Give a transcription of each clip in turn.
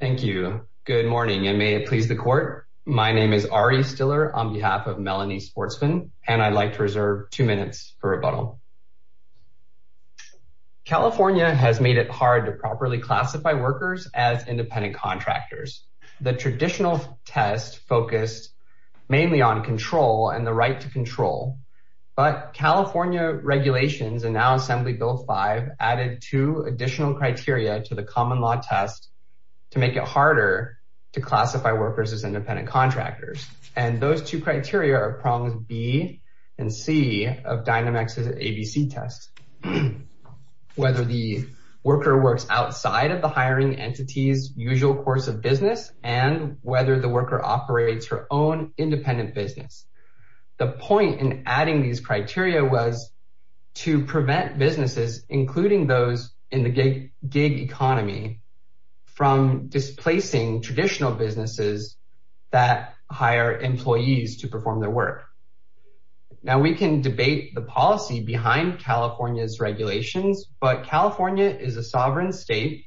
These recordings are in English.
Thank you. Good morning and may it please the court. My name is Ari Stiller on behalf of Melanie Sportsman and I'd like to reserve two minutes for rebuttal. California has made it hard to properly classify workers as independent contractors. The traditional test focused mainly on control and the right to control. But California regulations and now Assembly Bill 5 added two additional criteria to the harder to classify workers as independent contractors. And those two criteria are prongs B and C of Dynamex's ABC test. Whether the worker works outside of the hiring entity's usual course of business and whether the worker operates her own independent business. The point in adding these criteria was to prevent businesses including those in the gig economy from displacing traditional businesses that hire employees to perform their work. Now we can debate the policy behind California's regulations, but California is a sovereign state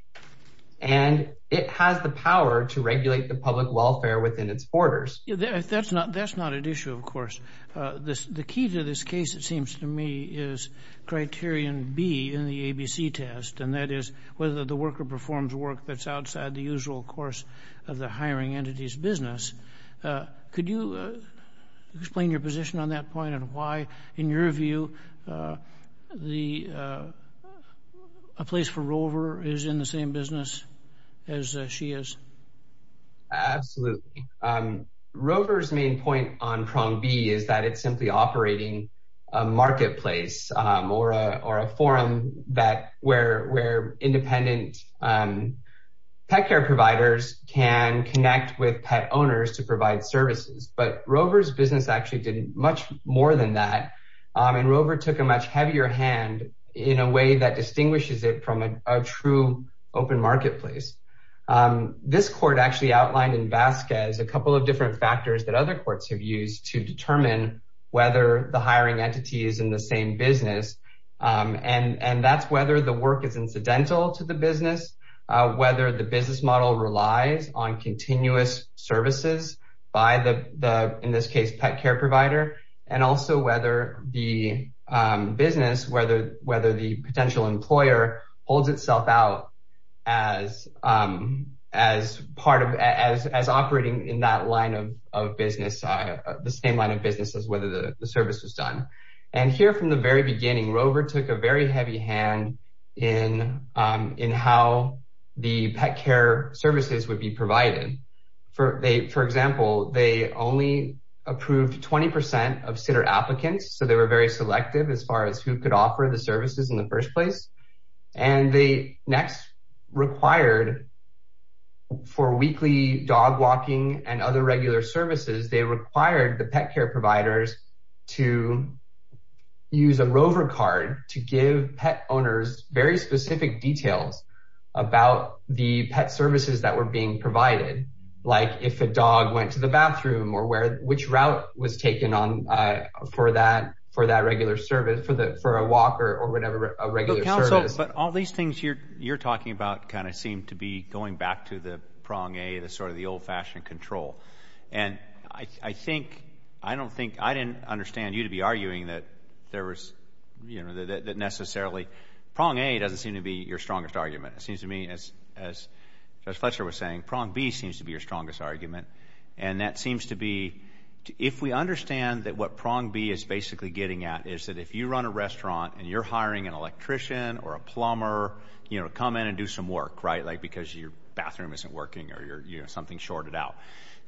and it has the power to regulate the public welfare within its borders. That's not an issue of course. The key to this case it seems to me is criterion B in the ABC test and that is whether the worker works outside of the usual course of the hiring entity's business. Could you explain your position on that point and why, in your view, a place for Rover is in the same business as she is? Absolutely. Rover's main point on prong B is that it's simply operating a marketplace or a forum where independent providers can connect with pet owners to provide services. But Rover's business actually did much more than that. And Rover took a much heavier hand in a way that distinguishes it from a true open marketplace. This court actually outlined in Vasquez a couple of different factors that other courts have used to determine whether the hiring entity is in the same business. And that's whether the work is incidental to the client. Whether the client still relies on continuous services by the, in this case, pet care provider, and also whether the business, whether the potential employer holds itself out as operating in that line of business, the same line of business as whether the service is done. And here from the very beginning, Rover took a very heavy hand in how the pet care services would be provided. For example, they only approved 20% of sitter applicants. So they were very selective as far as who could offer the services in the first place. And they next required for weekly dog walking and other regular services, they required the pet care providers to use a Rover card to give pet owners very specific details about the pet services that were being provided. Like if a dog went to the bathroom or where which route was taken on for that for that regular service for the for a walker or whatever, a regular service. But all these things you're you're talking about kind of seem to be going back to the prong a the sort of the old fashion control. And I think I don't think I didn't understand you to be arguing that there was, you know, that necessarily prong a doesn't seem to be your strongest argument. It seems to me as as as Fletcher was saying, prong B seems to be your strongest argument. And that seems to be, if we understand that what prong B is basically getting at is that if you run a restaurant, and you're hiring an electrician or a plumber, you know, come in and do some work, right, like because your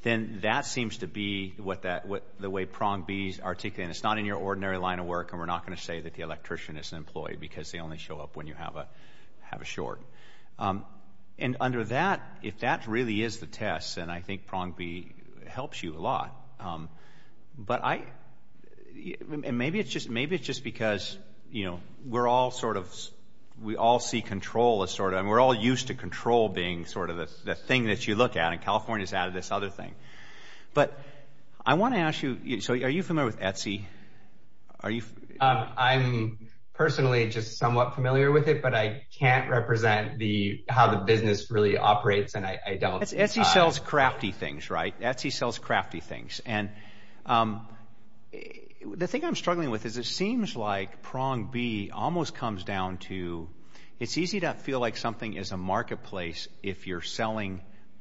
Then that seems to be what that what the way prong B's articulate, it's not in your ordinary line of work. And we're not going to say that the electrician is an employee because they only show up when you have a have a short. And under that, if that really is the test, and I think prong B helps you a lot. But I maybe it's just maybe it's just because, you know, we're all sort of, we all see control as sort of and we're all used to control being sort of the thing that you look at. And California is out of this other thing. But I want to ask you, so are you familiar with Etsy? Are you? I'm personally just somewhat familiar with it. But I can't represent the how the business really operates. And I don't see sells crafty things, right? Etsy sells crafty things. And the thing I'm struggling with is it seems like prong B almost comes down to, it's easy to feel like something is a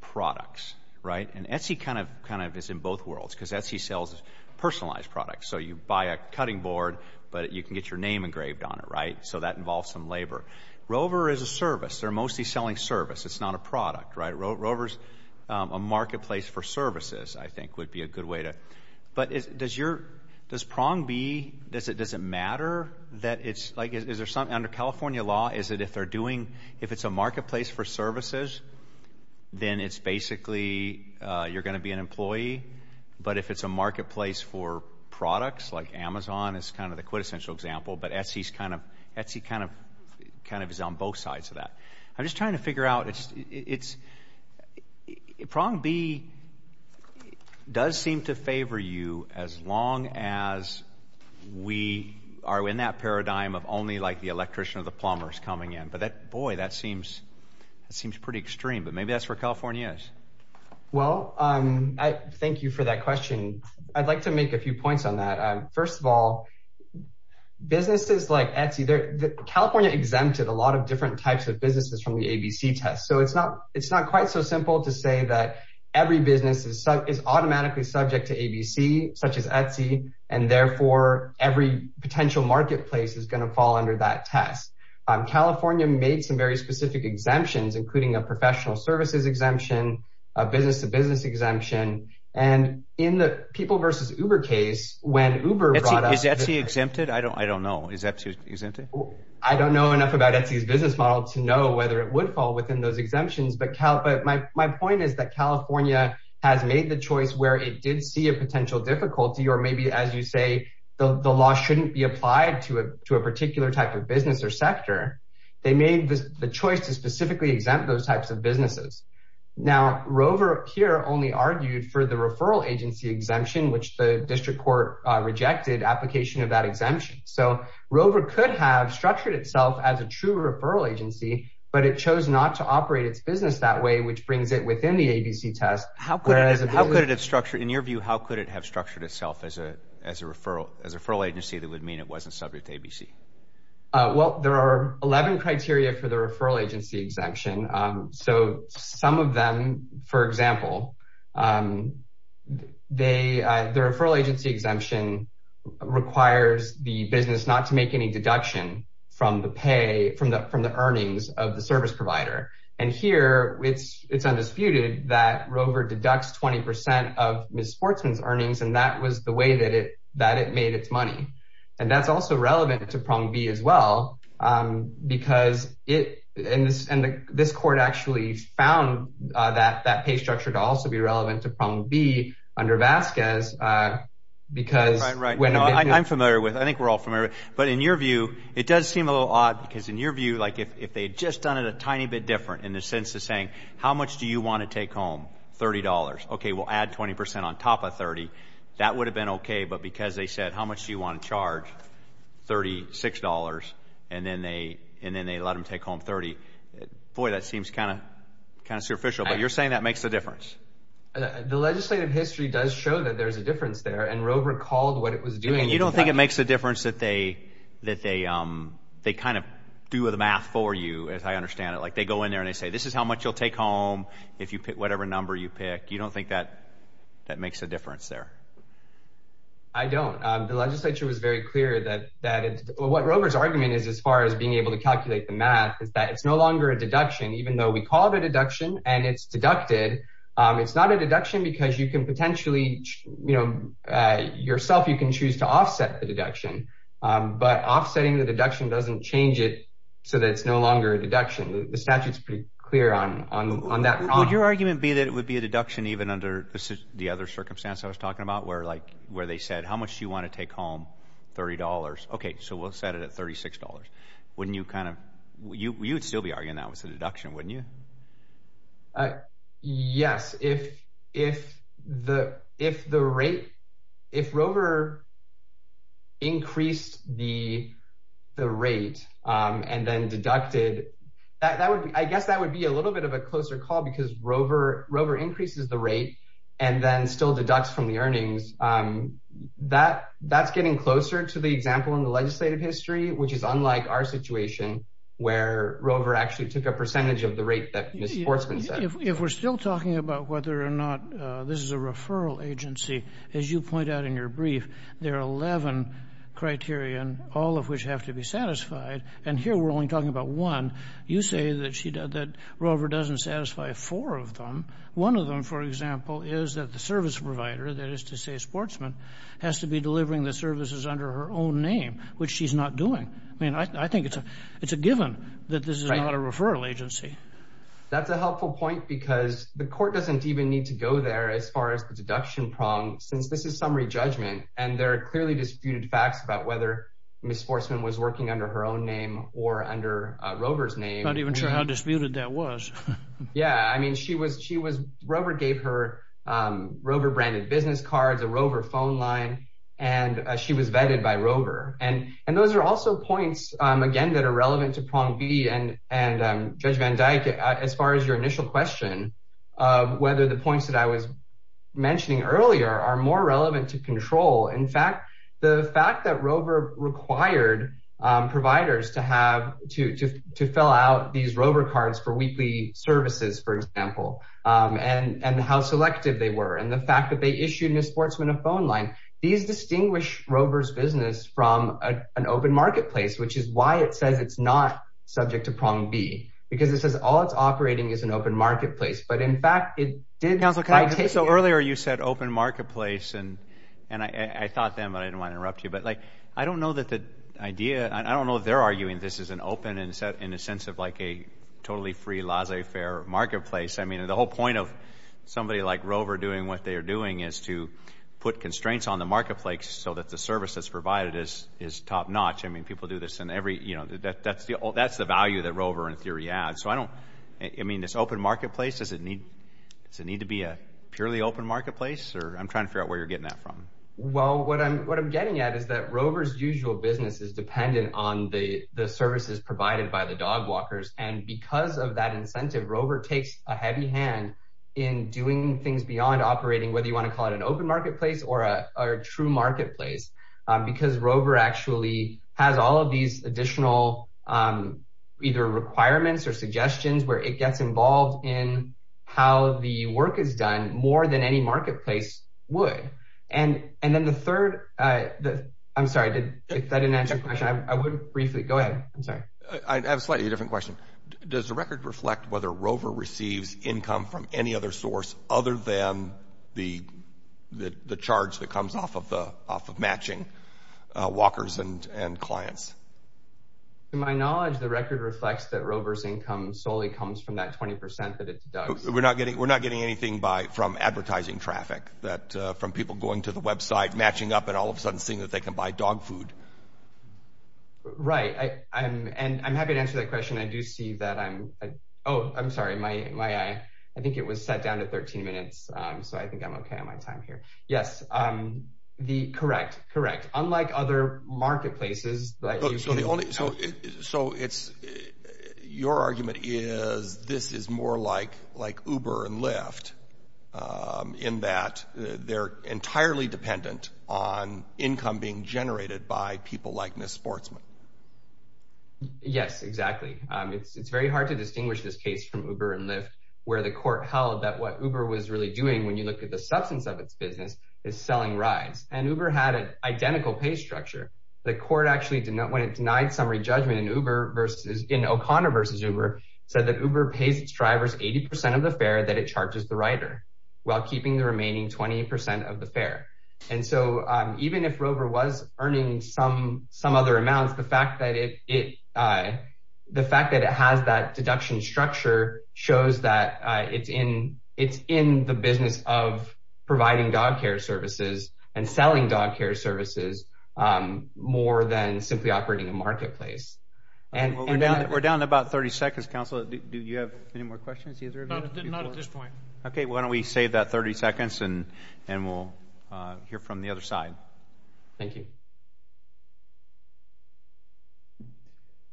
product, right? And Etsy kind of kind of is in both worlds, because Etsy sells personalized products. So you buy a cutting board, but you can get your name engraved on it, right? So that involves some labor. Rover is a service, they're mostly selling service, it's not a product, right? Rovers, a marketplace for services, I think would be a good way to, but does your does prong B does it doesn't matter that it's like, is there some under California law? Is it if they're doing if it's a basically, you're going to be an employee. But if it's a marketplace for products, like Amazon is kind of the quintessential example, but Etsy is kind of Etsy kind of, kind of is on both sides of that. I'm just trying to figure out it's it's prong B does seem to favor you as long as we are in that paradigm of only like the electrician or the plumbers coming in. But that boy, that seems that seems pretty extreme. But maybe that's where California is. Well, um, I thank you for that question. I'd like to make a few points on that. First of all, businesses like Etsy, they're the California exempted a lot of different types of businesses from the ABC test. So it's not it's not quite so simple to say that every business is automatically subject to ABC, such as Etsy. And therefore, every potential marketplace is going to fall under that test. California made some very specific exemptions, like a personal services exemption, a business to business exemption. And in the people versus Uber case, when Uber is that he exempted, I don't I don't know, is that he's, isn't it? I don't know enough about it. He's business model to know whether it would fall within those exemptions. But Cal, but my point is that California has made the choice where it did see a potential difficulty or maybe as you say, the law shouldn't be applied to a particular type of Now, Rover here only argued for the referral agency exemption, which the district court rejected application of that exemption. So Rover could have structured itself as a true referral agency, but it chose not to operate its business that way, which brings it within the ABC test. How could it have structured in your view? How could it have structured itself as a as a referral as a referral agency that would mean it wasn't subject to ABC? Well, there are 11 criteria for the referral agency exemption. So some of them, for example, they, the referral agency exemption requires the business not to make any deduction from the pay from the from the earnings of the service provider. And here it's it's undisputed that Rover deducts 20% of Miss sportsman's earnings. And that was the way that it that it made its money. And that's also relevant to be as well. Because it is and this court actually found that that pay structure to also be relevant to be under Vasquez. Because when I'm familiar with, I think we're all familiar. But in your view, it does seem a little odd. Because in your view, like if they just done it a tiny bit different in the sense of saying, how much do you want to take home $30? Okay, we'll add 20% on top of 30. That would have been okay. But because they said, how much do you want to charge $36? And then they and then they let them take home 30. Boy, that seems kind of kind of superficial. But you're saying that makes a difference. The legislative history does show that there's a difference there. And Rover called what it was doing. You don't think it makes a difference that they that they they kind of do the math for you, as I understand it, like they go in there and they say, this is how much you'll take home. If you pick whatever number you pick, you don't think that that makes a difference there. I don't, the legislature was very clear that that is what Rover's argument is, as far as being able to calculate the math is that it's no longer a deduction, even though we call it a deduction, and it's deducted. It's not a deduction, because you can potentially, you know, yourself, you can choose to offset the deduction. But offsetting the deduction doesn't change it. So that's no longer a deduction. The statute is pretty clear on on that. Would your argument be that it would be a deduction even under the other circumstance I was talking about, where like, where they said, how much do you want to take home? $30? Okay, so we'll set it at $36. Wouldn't you kind of, you'd still be arguing that was a deduction, wouldn't you? Yes, if, if the if the rate, if Rover increased the rate, and then deducted, that would, I guess that would be a little bit of a closer call, because Rover, Rover increases the rate, and then still deducts from the earnings. That that's getting closer to the example in the legislative history, which is unlike our situation, where Rover actually took a percentage of the rate that Ms. Sportsman said. If we're still talking about whether or not this is a referral agency, as you point out in your brief, there are 11 criterion, all of which have to be satisfied. And here, we're only talking about one, you say that she, that Rover doesn't satisfy four of them. One of them, for example, is that the service provider, that is to say, Sportsman, has to be delivering the services under her own name, which she's not doing. I mean, I think it's a, it's a given that this is not a referral agency. That's a helpful point, because the court doesn't even need to go there as far as the deduction prong, since this is summary judgment, and there are clearly disputed facts about whether Ms. Sportsman has to be delivering the services under Rover's name. I'm not even sure how disputed that was. Yeah, I mean, she was, she was, Rover gave her Rover branded business cards, a Rover phone line, and she was vetted by Rover. And, and those are also points, again, that are relevant to prong B and, and Judge Van Dyke, as far as your initial question of whether the points that I was mentioning earlier are more relevant to control. In fact, the fact that Rover required providers to have to, to, to fill out these Rover cards for weekly services, for example, and, and how selective they were, and the fact that they issued Ms. Sportsman a phone line, these distinguish Rover's business from an open marketplace, which is why it says it's not subject to prong B, because it says all it's operating is an open marketplace. But in fact, it did. Counsel, so earlier you said open marketplace and, and I thought then, but I didn't want to interrupt you. But like, I don't know that the idea, I don't know if they're arguing this is an open and set in a sense of like a totally free laissez-faire marketplace. I mean, the whole point of somebody like Rover doing what they are doing is to put constraints on the marketplace so that the service that's provided is, is top notch. I mean, people do this in every, you know, that that's the, that's the value that Rover in theory adds. So I don't, I mean, this open marketplace, does it need, does it need to be a purely open marketplace? Or I'm trying to figure out where you're getting that from? Well, what I'm what I'm getting at is that Rover's usual business is dependent on the services provided by the dogwalkers. And because of that incentive, Rover takes a heavy hand in doing things beyond operating, whether you want to call it an open marketplace or a true marketplace, because Rover actually has all of these additional either requirements or suggestions where it gets involved in how the work is would. And, and then the third, I'm sorry, I didn't, I didn't answer your question. I would briefly go ahead. I'm sorry. I have a slightly different question. Does the record reflect whether Rover receives income from any other source other than the, the charge that comes off of the off of matching walkers and, and clients? To my knowledge, the record reflects that Rover's income solely comes from that 20% that it deducts. We're not getting we're not getting anything by from advertising traffic that from people going to the website, matching up and all of a sudden seeing that they can buy dog food. Right, I'm and I'm happy to answer that question. I do see that I'm, oh, I'm sorry, my my, I think it was set down to 13 minutes. So I think I'm okay on my time here. Yes. The correct correct, unlike other marketplaces. So it's your argument is this is more like like Uber and Lyft. In that they're entirely dependent on income being generated by people like this sportsman. Yes, exactly. It's very hard to distinguish this case from Uber and Lyft, where the court held that what Uber was really doing when you look at the substance of its business is selling rides and Uber had an identical pay structure. The court actually did not when it denied summary judgment in Uber versus in O'Connor versus Uber said that Uber pays its drivers 80% of the fare that it charges the rider while keeping the remaining 20% of the fare. And so even if Rover was earning some some other amounts, the fact that it, the fact that it has that deduction structure shows that it's in, it's in the business of providing dog care services and selling dog care services, more than simply operating a marketplace. And we're down, we're down about 30 seconds. Council. Do you have any more questions? Not at this point. Okay, why don't we save that 30 seconds and, and we'll hear from the other side. Thank you.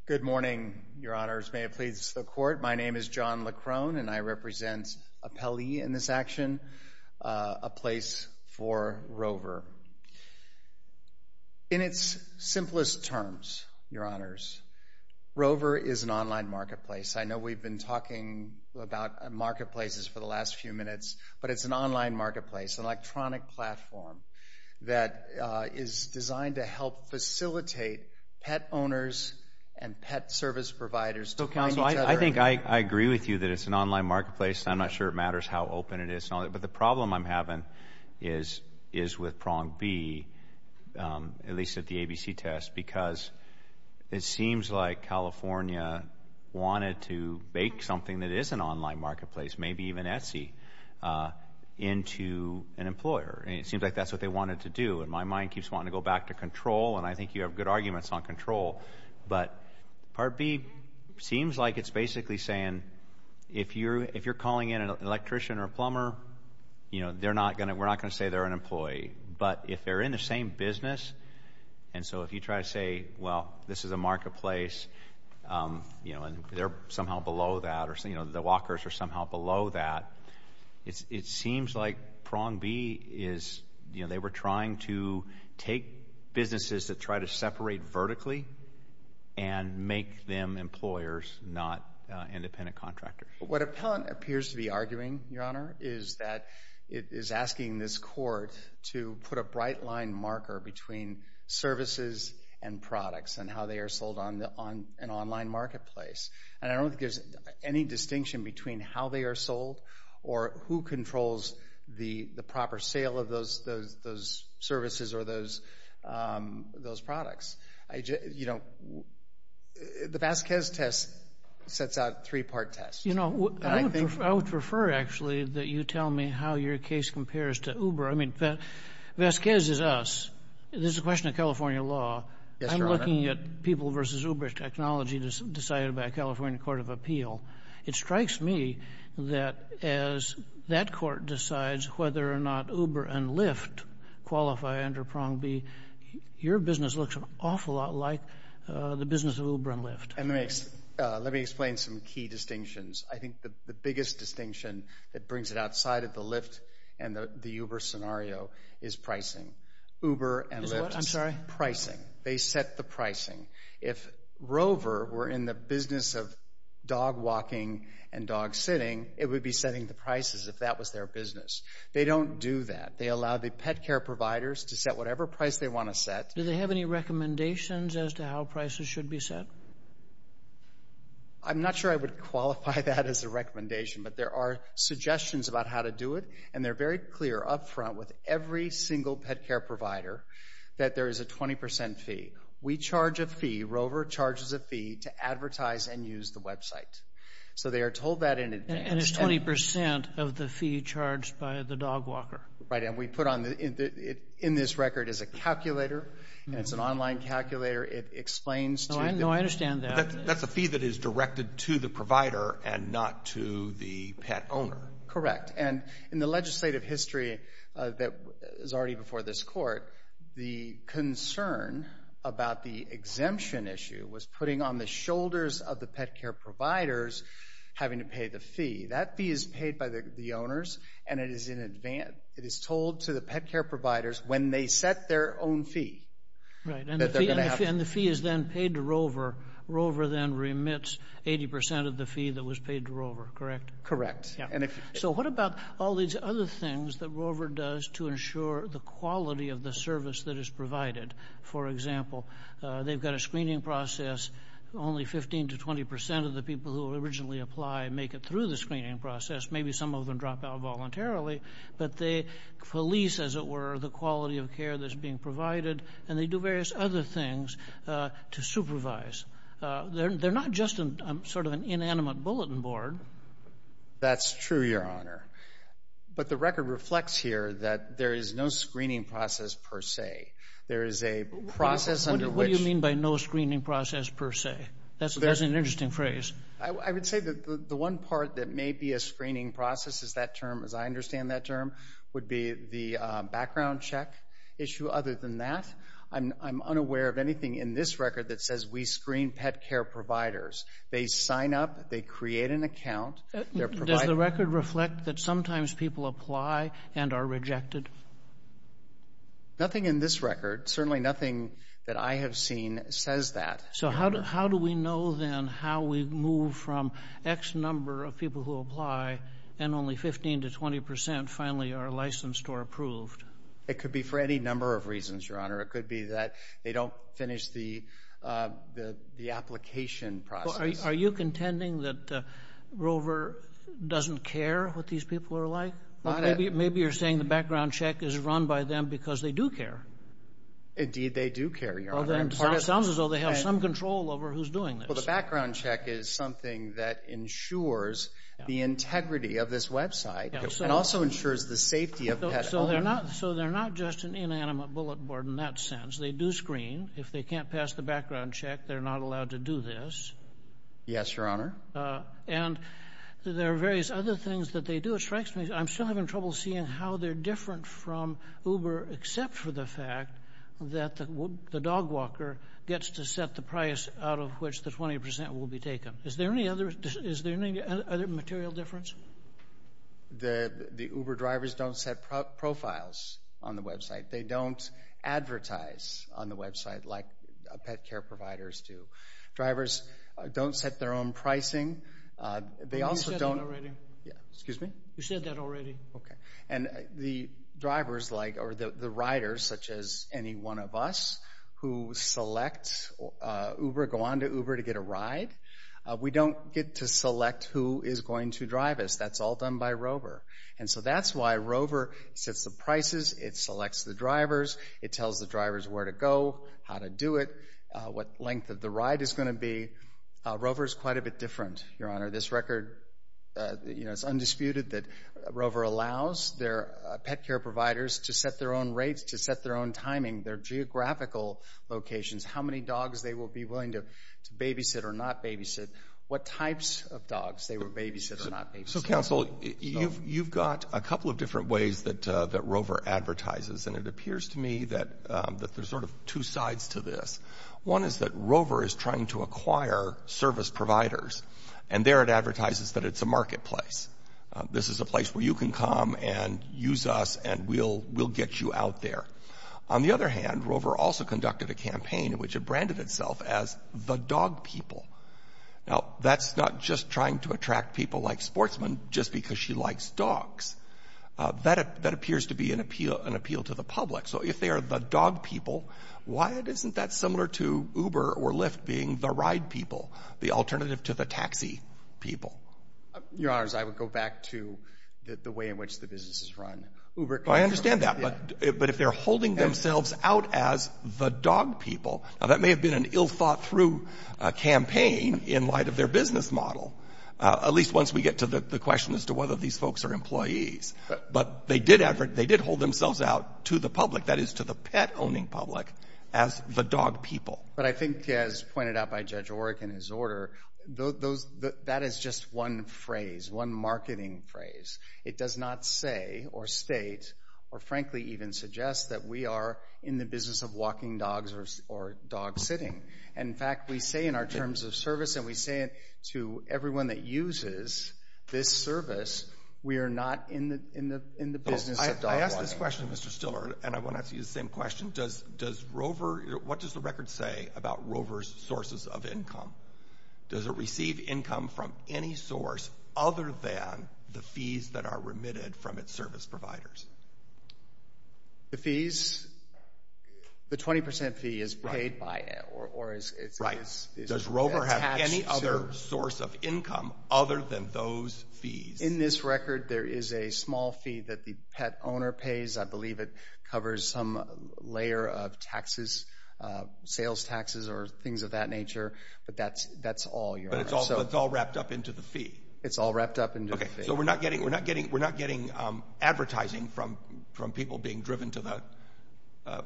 Good morning, Your Honors. May it please the court. My name is John Leckrone, and I represent Apelli in this action, a place for Rover. In its simplest terms, Your Honors, Rover is an online marketplace. We've been talking about marketplaces for the last few minutes, but it's an online marketplace, an electronic platform that is designed to help facilitate pet owners and pet service providers. So Council, I think I agree with you that it's an online marketplace. I'm not sure it matters how open it is. But the problem I'm having is, is with prong B, at least at the ABC test, because it seems like California wanted to bake something that is an online marketplace, maybe even Etsy, into an employer. And it seems like that's what they wanted to do. And my mind keeps wanting to go back to control. And I think you have good arguments on control. But part B seems like it's basically saying, if you're, if you're calling in an electrician or a plumber, you know, they're not going to, we're not going to say they're an employee. But if they're in the same business, and so if you try to say, well, this is a marketplace, you know, and they're somehow below that, or so, you know, the walkers are somehow below that. It seems like prong B is, you know, they were trying to take businesses that try to separate vertically and make them employers, not independent contractors. What Appellant appears to be arguing, Your Honor, is that it is a right line marker between services and products and how they are sold on the on an online marketplace. And I don't think there's any distinction between how they are sold, or who controls the the proper sale of those, those services or those, those products. I just, you know, the Vasquez test sets out three part tests. You know, I think I would prefer actually that you tell me how your case compares to Uber. I mean, Vasquez is us. This is a question of California law. I'm looking at people versus Uber technology decided by California Court of Appeal. It strikes me that as that court decides whether or not Uber and Lyft qualify under prong B, your business looks an awful lot like the business of Uber and Lyft. And let me explain some key distinctions. I think the Uber scenario is pricing. Uber and Lyft, I'm sorry, pricing, they set the pricing. If Rover were in the business of dog walking, and dog sitting, it would be setting the prices if that was their business. They don't do that. They allow the pet care providers to set whatever price they want to set. Do they have any recommendations as to how prices should be set? I'm not sure I would qualify that as a recommendation. But there are suggestions about how to do it. And they're very clear up front with every single pet care provider, that there is a 20% fee. We charge a fee, Rover charges a fee to advertise and use the website. So they are told that in advance. And it's 20% of the fee charged by the dog walker. Right. And we put on the in this record is a calculator. And it's an online calculator. It explains to them. No, I understand that. That's a fee that is directed to the provider and not to the pet owner. Correct. And in the legislative history, that is already before this court, the concern about the exemption issue was putting on the shoulders of the pet care providers having to pay the fee that fee is paid by the owners. And it is in advance, it is told to the pet care providers when they set their own fee. Right. And the fee is then paid to Rover. Rover then remits 80% of the fee that was paid to Rover. Correct? Correct. Yeah. So what about all these other things that Rover does to ensure the quality of the service that is provided? For example, they've got a screening process, only 15 to 20% of the people who originally apply make it through the screening process, maybe some of them drop out voluntarily, but they police, as it were, the quality of care that's being provided. And they do various other things to supervise. They're not just sort of an inanimate bulletin board. That's true, Your Honor. But the record reflects here that there is no screening process per se. There is a process under which you mean by no screening process per se. That's an interesting phrase. I would say that the one part that may be a screening process is that term, as I understand that term, would be the background check issue. Other than that, I'm unaware of anything in this record that says we screen pet care providers. They sign up, they create an account, they're providing... Does the record reflect that sometimes people apply and are rejected? Nothing in this record, certainly nothing that I have seen, says that. So how do we know then how we move from X number of people who apply and only 15 to 20% finally are licensed or approved? It could be for any number of reasons, Your Honor. It could be that they don't finish the application process. Are you contending that Rover doesn't care what these people are like? Maybe you're saying the background check is run by them because they do care. Indeed, they do care, Your Honor. It sounds as though they have some control over who's doing this. Well, the background check is something that ensures the integrity of this website and also ensures the safety of pet owners. So they're not just an inanimate bullet board in that sense. They do screen. If they can't pass the background check, they're not allowed to do this. Yes, Your Honor. And there are various other things that they do. It strikes me I'm still having trouble seeing how they're different from Uber, except for the fact that the dog walker gets to set the price out of which the 20% will be taken. Is there any other material difference? The Uber drivers don't set profiles on the website. They don't advertise on the website like pet care providers do. Drivers don't set their own pricing. They also don't. Yeah, excuse me. You said that already. Okay. And the drivers like or the riders, such as any one of us who select Uber, go on to Uber to get a ride, we don't get to that's all done by Rover. And so that's why Rover sets the prices. It selects the drivers. It tells the drivers where to go, how to do it, what length of the ride is going to be. Rover is quite a bit different, Your Honor. This record, you know, it's undisputed that Rover allows their pet care providers to set their own rates, to set their own timing, their geographical locations, how many dogs they will be willing to babysit or not babysit, what types of dogs they will babysit or not. So counsel, you've got a couple of different ways that Rover advertises, and it appears to me that there's sort of two sides to this. One is that Rover is trying to acquire service providers and there it advertises that it's a marketplace. This is a place where you can come and use us and we'll get you out there. On the other hand, Rover also conducted a campaign in which it branded itself as the dog people. Now, that's not just trying to attract people like sportsmen just because she likes dogs. That appears to be an appeal to the public. So if they are the dog people, why isn't that similar to Uber or Lyft being the ride people, the alternative to the taxi people? Your Honors, I would go back to the way in which the business is run. Uber. I understand that, but if they're holding themselves out as the dog people, now that may have been an ill thought through campaign in light of their business model, at least once we get to the question as to whether these folks are employees. But they did hold themselves out to the public, that is to the pet owning public, as the dog people. But I think, as pointed out by Judge Oreck in his order, that is just one phrase, one marketing phrase. It does not say or state or frankly even suggest that we are in the business of walking dogs or dog sitting. In fact, we say in our terms of service and we say it to everyone that uses this service, we are not in the business of dog walking. I ask this question, Mr. Stiller, and I want to ask you the same question. Does Rover, what does the record say about Rover's sources of income? Does it receive income from any source other than the fees that are remitted from its service providers? The fees, the 20 percent fee is paid by it or is it right? Does Rover have any other source of income other than those fees? In this record, there is a small fee that the pet owner pays. I believe it covers some layer of taxes, sales taxes or things of that nature. But that's all. But it's all wrapped up into the fee. It's all wrapped up. So we're not getting we're not getting we're not getting advertising from from people being driven to the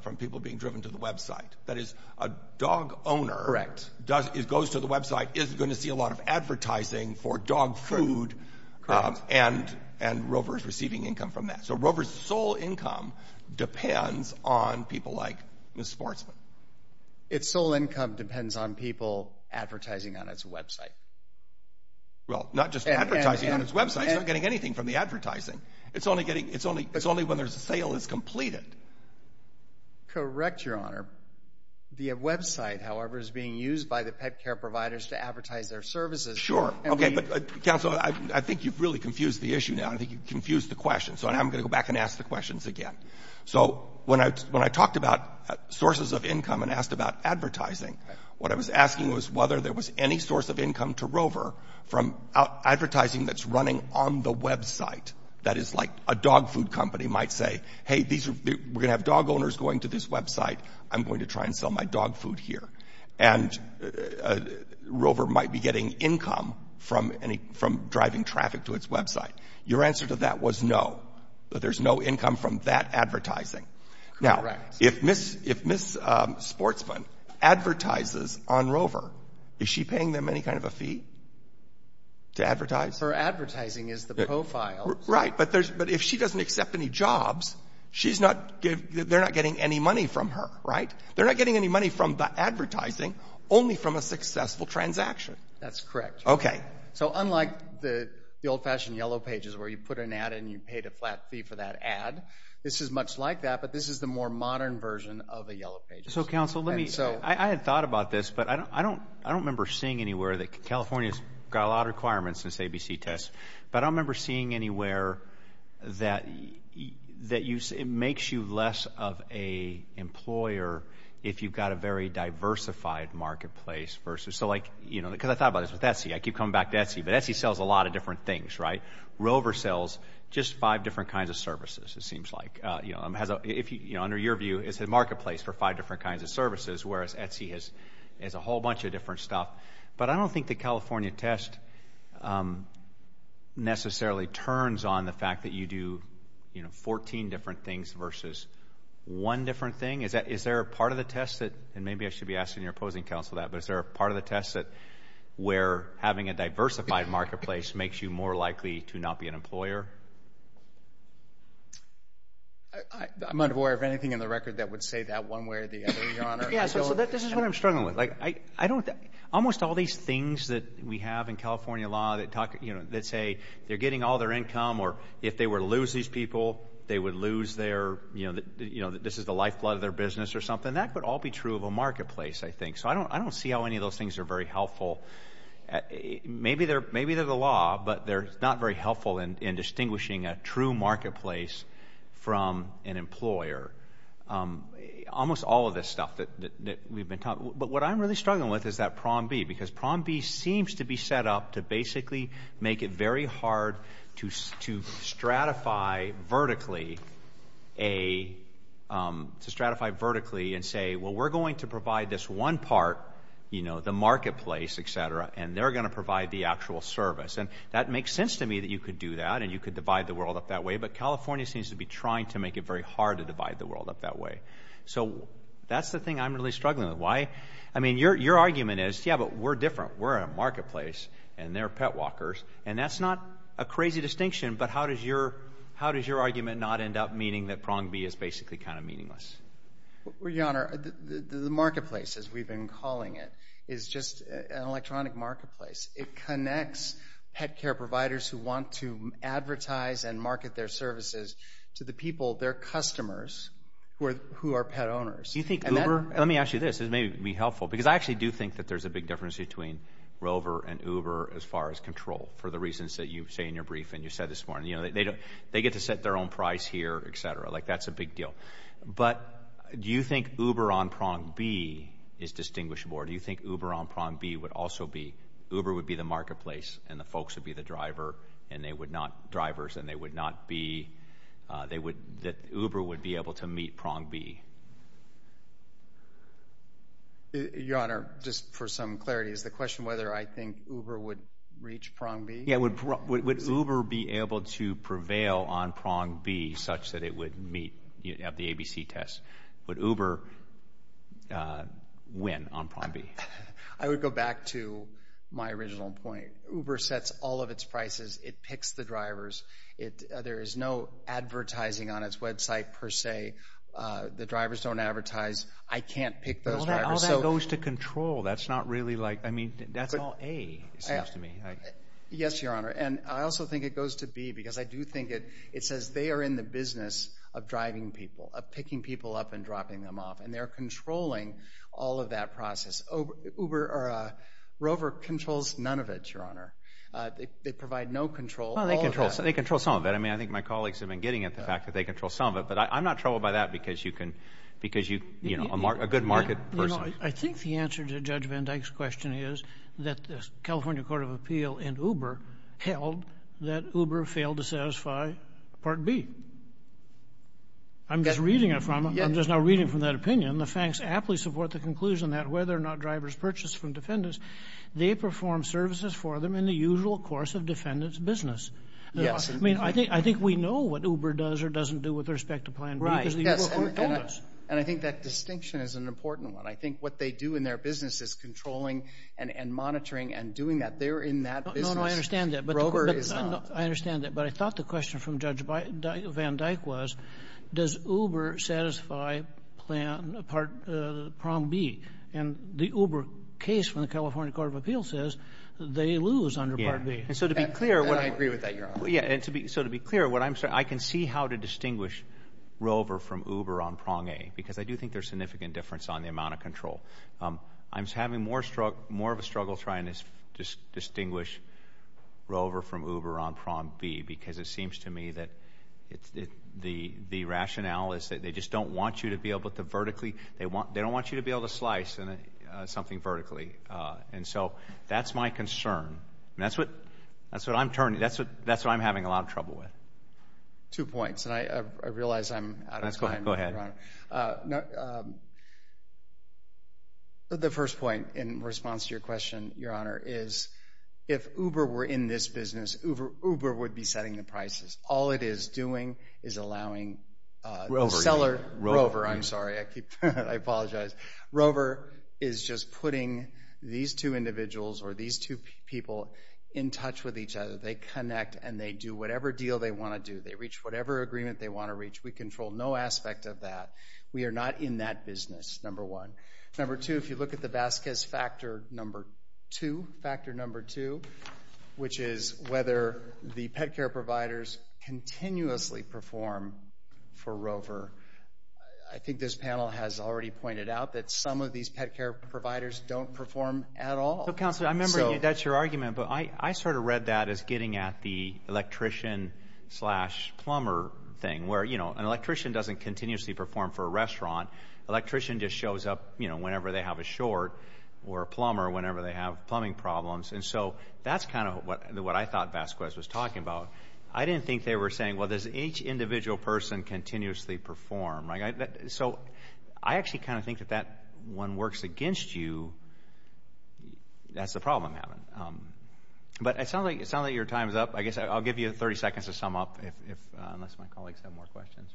from people being driven to the website. That is a dog owner. Correct. Does it goes to the website is going to see a lot of advertising for dog food. And and Rover is receiving income from that. So Rover's sole income depends on people like Miss Sportsman. Its sole income depends on people advertising on its website. Well, not just advertising on its website, not getting anything from the advertising, it's only getting it's only it's only when there's a sale is completed. Correct, Your Honor. The website, however, is being used by the pet care providers to advertise their services. Sure. OK, but counsel, I think you've really confused the issue now. I think you've confused the question. So I'm going to go back and ask the questions again. So when I when I talked about sources of income and asked about advertising, what I was asking was whether there was any source of income to Rover from advertising that's running on the website. That is like a dog food company might say, hey, these are we're going to have dog owners going to this website. I'm going to try and sell my dog food here. And Rover might be getting income from any from driving traffic to its website. Your answer to that was no, but there's no income from that advertising. Now, if Miss if Miss Sportsman advertises on Rover, is she paying them any kind of a fee? To advertise for advertising is the profile, right, but there's but if she doesn't accept any jobs, she's not they're not getting any money from her, right? They're not getting any money from the advertising, only from a successful transaction. That's correct. OK, so unlike the old fashioned yellow pages where you put an ad and you paid a flat fee for that ad, this is much like that. But this is the more modern version of a yellow page. So, counsel, let me so I had thought about this, but I don't I don't remember seeing anywhere that California's got a lot of requirements since ABC test. But I remember seeing anywhere that that you it makes you less of a employer if you've got a very diversified marketplace versus so like, you know, because I thought about it with Etsy, I keep coming back to Etsy, but Etsy sells a lot of different things, right? Rover sells just five different kinds of services. It seems like, you know, if you know, under your view, it's a marketplace for five different kinds of services, whereas Etsy has is a whole bunch of different stuff. But I don't think the California test necessarily turns on the fact that you do, you know, 14 different things versus one different thing. Is that is there a part of the test that and maybe I should be asking your opposing counsel that, but is there a part of the test that we're having a diversified marketplace makes you more likely to not be an employer? I'm not aware of anything in the record that would say that one way or the other, Your Honor. Yeah, so this is what I'm struggling with. Like, I don't almost all these things that we have in California law that talk, you know, that say they're getting all their income or if they were to lose these people, they would lose their, you know, you know, this is the lifeblood of their business or something that could all be true of a marketplace, I think. So I don't I don't see how any of those things are very helpful. Maybe they're maybe they're the law, but they're not very helpful in distinguishing a true marketplace from an employer. Almost all of this stuff that we've been talking, but what I'm really struggling with is that Prom B, because Prom B seems to be set up to basically make it very hard to to stratify vertically a to stratify vertically and say, well, we're going to provide this one part, you know, the marketplace, etc. And they're going to provide the actual service. And that makes sense to me that you could do that. And you could divide the world up that way. But California seems to be trying to make it very hard to divide the world up that way. So that's the thing I'm really struggling with. Why? I mean, your your argument is, yeah, but we're different. We're a marketplace and they're pet walkers. And that's not a crazy distinction. But how does your how does your argument not end up meaning that Prom B is basically kind of meaningless? Your Honor, the marketplace, as we've been calling it, is just an electronic marketplace. It connects pet care providers who want to advertise and market their services to the people, their customers, who are who are pet owners. You think Uber? Let me ask you this. This may be helpful, because I actually do think that there's a big difference between Rover and Uber as far as control for the reasons that you say in your brief and you said this morning, you know, they don't they get to set their own price here, etc. Like that's a big deal. But do you think Uber on Prom B is distinguishable? Or do you think Uber on Prom B would also be Uber would be the marketplace and the folks would be the driver and they would not drivers and they would not be they would that Uber would be able to meet Prom B? Your Honor, just for some clarity is the question whether I think Uber would reach Prom B? Yeah, would would Uber be able to prevail on Prom B such that it would meet the ABC test? Would Uber win on Prom B? I would go back to my original point. Uber sets all of its prices. It picks the drivers. It there is no advertising on its website per se. The drivers don't advertise. I can't pick those drivers. All that goes to control. That's not really like I mean, that's all A, it seems to me. Yes, Your Honor. And I also think it goes to B because I do think it it says they are in the business of driving people, of picking people up and dropping them off. And they're controlling all of that process. Uber or Rover controls none of it, Your Honor. They provide no control. Well, they control some of that. I mean, I think my colleagues have been getting at the fact that they control some of it. But I'm not troubled by that because you can because you know, a good market person. I think the answer to Judge Van Dyke's question is that the California Court of Appeal and Uber held that Uber failed to satisfy Part B. I'm just reading it from I'm just now reading from that opinion, the facts aptly support the conclusion that whether or not drivers purchase from defendants, they perform services for them in the usual course of defendant's business. Yes. I mean, I think I think we know what Uber does or doesn't do with respect to Plan B. Right. And I think that distinction is an important one. I think what they do in their business is controlling and monitoring and doing that. They're in that business. No, no, I understand that. But I understand that. But I thought the question from Judge Van Dyke was, does Uber satisfy Plan B and the Uber case from the California Court of Appeals under Part B? And so to be clear, what I agree with that, you're right. Yeah. And so to be clear, what I'm saying, I can see how to distinguish Rover from Uber on Prong A, because I do think there's significant difference on the amount of control. I'm having more of a struggle trying to distinguish Rover from Uber on Prong B, because it seems to me that the rationale is that they just don't want you to be able to vertically they want they don't want you to be able to slice something vertically. And so that's my concern. And that's what I'm having a lot of trouble with. Two points. And I realize I'm out of time. Go ahead. The first point in response to your question, Your Honor, is if Uber were in this business, Uber would be setting the prices. All it is doing is allowing the seller, Rover, I'm sorry. I keep, I apologize. Rover is just putting these two individuals or these two people in touch with each other. They connect and they do whatever deal they want to do. They reach whatever agreement they want to reach. We control no aspect of that. We are not in that business. Number one. Number two, if you look at the Vasquez factor, number two, factor number two, which is whether the pet care providers continuously perform for Rover. I think this panel has already pointed out that some of these pet care providers don't perform at all. So, Counselor, I remember that's your argument. But I sort of read that as getting at the electrician slash plumber thing where, you know, an electrician doesn't continuously perform for a restaurant. Electrician just shows up, you know, whenever they have a short or a plumber, whenever they have plumbing problems. And so that's kind of what I thought Vasquez was talking about. I didn't think they were saying, well, there's each individual person continuously perform. So I actually kind of think that that one works against you. That's the problem, Evan. But it sounds like your time is up. I guess I'll give you 30 seconds to sum up if unless my colleagues have more questions.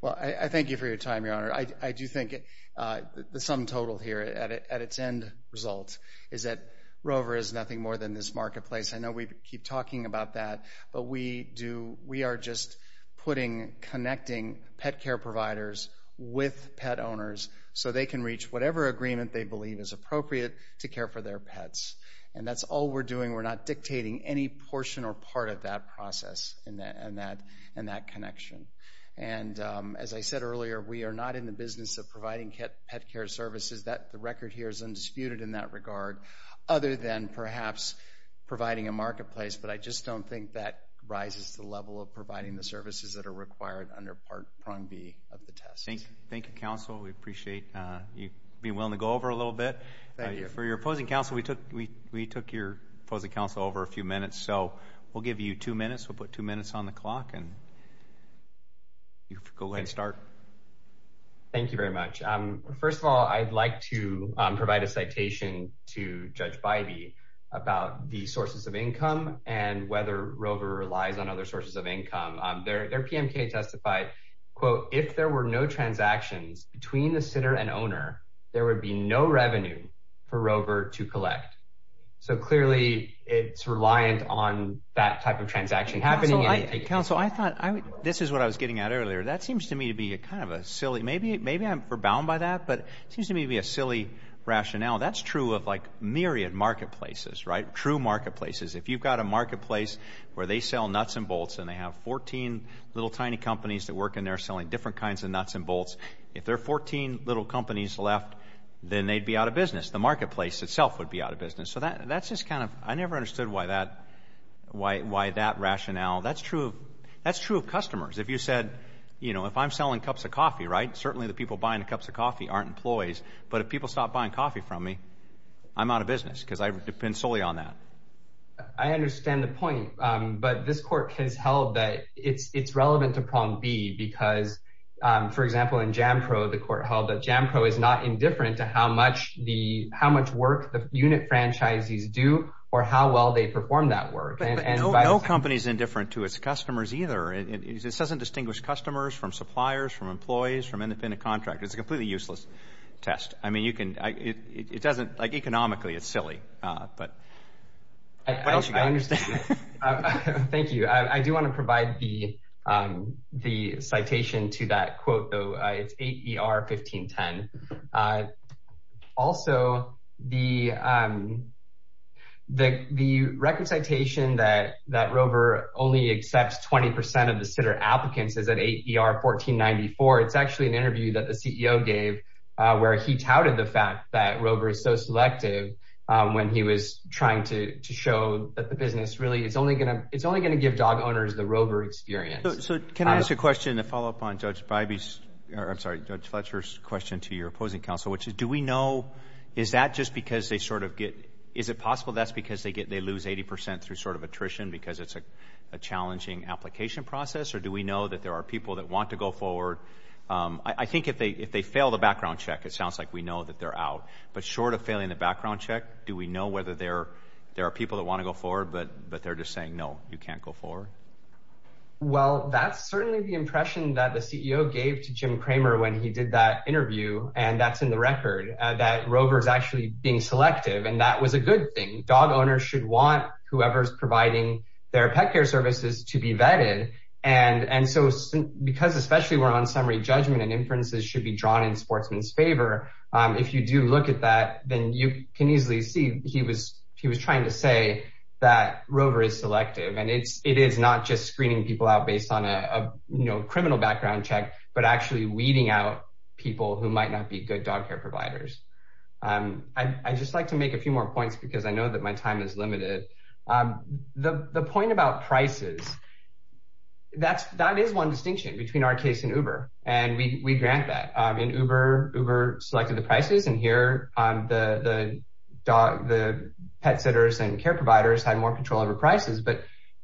Well, I thank you for your time, Your Honor. I do think the sum total here at its end result is that Rover is nothing more than this marketplace. I know we keep talking about that, but we do. We are just putting, connecting pet care providers with pet owners so they can reach whatever agreement they believe is appropriate to care for their pets. And that's all we're doing. We're not dictating any portion or part of that process and that connection. And as I said earlier, we are not in the business of providing pet care services. The record here is undisputed in that regard, other than perhaps providing a marketplace. But I just don't think that rises to the level of providing the services that are required under part prong B of the test. Thank you, counsel. We appreciate you being willing to go over a little bit. Thank you. For your opposing counsel, we took your opposing counsel over a few minutes, so we'll give you two minutes. We'll put two minutes on the clock and you can go ahead and start. Thank you very much. First of all, I'd like to provide a citation to Judge about the sources of income and whether Rover relies on other sources of income. Their PMK testified, quote, if there were no transactions between the sitter and owner, there would be no revenue for Rover to collect. So clearly it's reliant on that type of transaction happening. Counsel, I thought this is what I was getting at earlier. That seems to me to be a kind of a silly, maybe I'm forbound by that, but it seems to me to be a silly rationale. That's true of like myriad marketplaces, right? True marketplaces. If you've got a marketplace where they sell nuts and bolts and they have 14 little tiny companies that work in there selling different kinds of nuts and bolts, if there are 14 little companies left, then they'd be out of business. The marketplace itself would be out of business. So that's just kind of, I never understood why that rationale, that's true of customers. If you said, you know, if I'm selling cups of coffee, right? Certainly the people buying the cups of coffee aren't employees, but if people stop buying coffee from me, I'm out of business because I depend solely on that. I understand the point, but this court has held that it's relevant to problem B because, for example, in Jampro, the court held that Jampro is not indifferent to how much work the unit franchises do or how well they perform that work. But no company is indifferent to its customers either. It doesn't distinguish customers from suppliers, from employees, from independent contractors. It's a completely useless test. I mean, you can, it doesn't, like economically, it's silly, but. I understand. Thank you. I do want to provide the citation to that quote, though. It's 8 ER 1510. Also, the record citation that that Rover only accepts 20% of the Sitter applicants is at 8 ER 1494. It's actually an interview that the CEO gave where he touted the fact that Rover is so selective when he was trying to show that the business really, it's only going to, it's only going to give dog owners the Rover experience. So can I ask a question to follow up on Judge Bybee's, or I'm sorry, Judge Fletcher's question to your opposing counsel, which is, do we know, is that just because they sort of get, is it possible that's because they get, they lose 80% through sort of attrition because it's a challenging application process, or do we know that there are people that want to go forward? I think if they, if they fail the background check, it sounds like we know that they're out, but short of failing the background check, do we know whether there, there are people that want to go forward, but, but they're just saying, no, you can't go forward. Well, that's certainly the impression that the CEO gave to Jim Kramer when he did that interview. And that's in the record that Rover is actually being selective. And that was a good thing. Dog owners should want whoever's providing their pet care services to be vetted. And, and so because especially we're on summary judgment and inferences should be drawn in sportsman's favor. If you do look at that, then you can easily see he was, he was trying to say that Rover is selective and it's, it is not just screening people out based on a, you know, criminal background check, but actually weeding out people who might not be good dog care providers. I just like to make a few more points because I know that my time is limited. The, the point about prices, that's, that is one distinction between our case and Uber, and we, we grant that in Uber, Uber selected the prices and here the, the dog, the pet sitters and care providers had more control over prices, but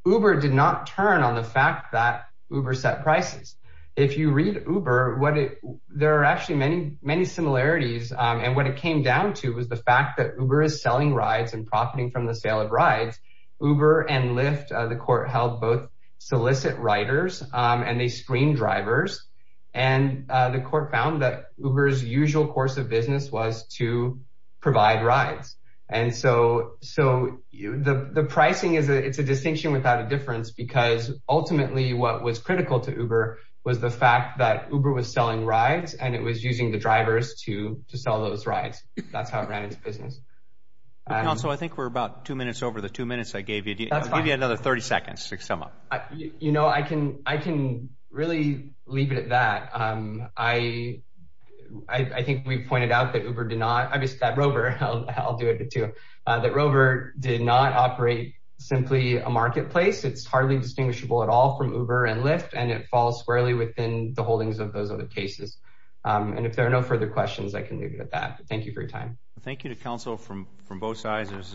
Uber did not turn on the fact that Uber set prices. If you read Uber, what it, there are actually many, many similarities. And what it came down to was the fact that Uber is selling rides and profiting from the sale of rides, Uber and Lyft, the court held both solicit riders and they screened drivers. And the court found that Uber's usual course of business was to provide rides. And so, so you, the, the pricing is a, it's a distinction without a difference because ultimately what was critical to Uber was the fact that Uber was selling rides and it was using the drivers to, to sell those rides. That's how it ran into business. And also, I think we're about two minutes over the two minutes I gave you. That's fine. I'll give you another 30 seconds to sum up. I, you know, I can, I can really leave it at that. I, I think we've pointed out that Uber did not, obviously that Rover, I'll, I'll do it too, that Rover did not operate simply a marketplace. It's hardly distinguishable at all from Uber and Lyft, and it falls squarely within the holdings of those other cases. And if there are no further questions, I can leave it at that. Thank you for your time. Thank you to counsel from, from both sides. There's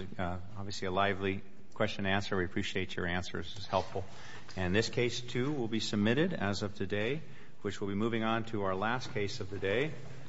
obviously a lively question to answer. We appreciate your answers. It's helpful. And this case too will be submitted as of today, which we'll be moving on to our last case of the day.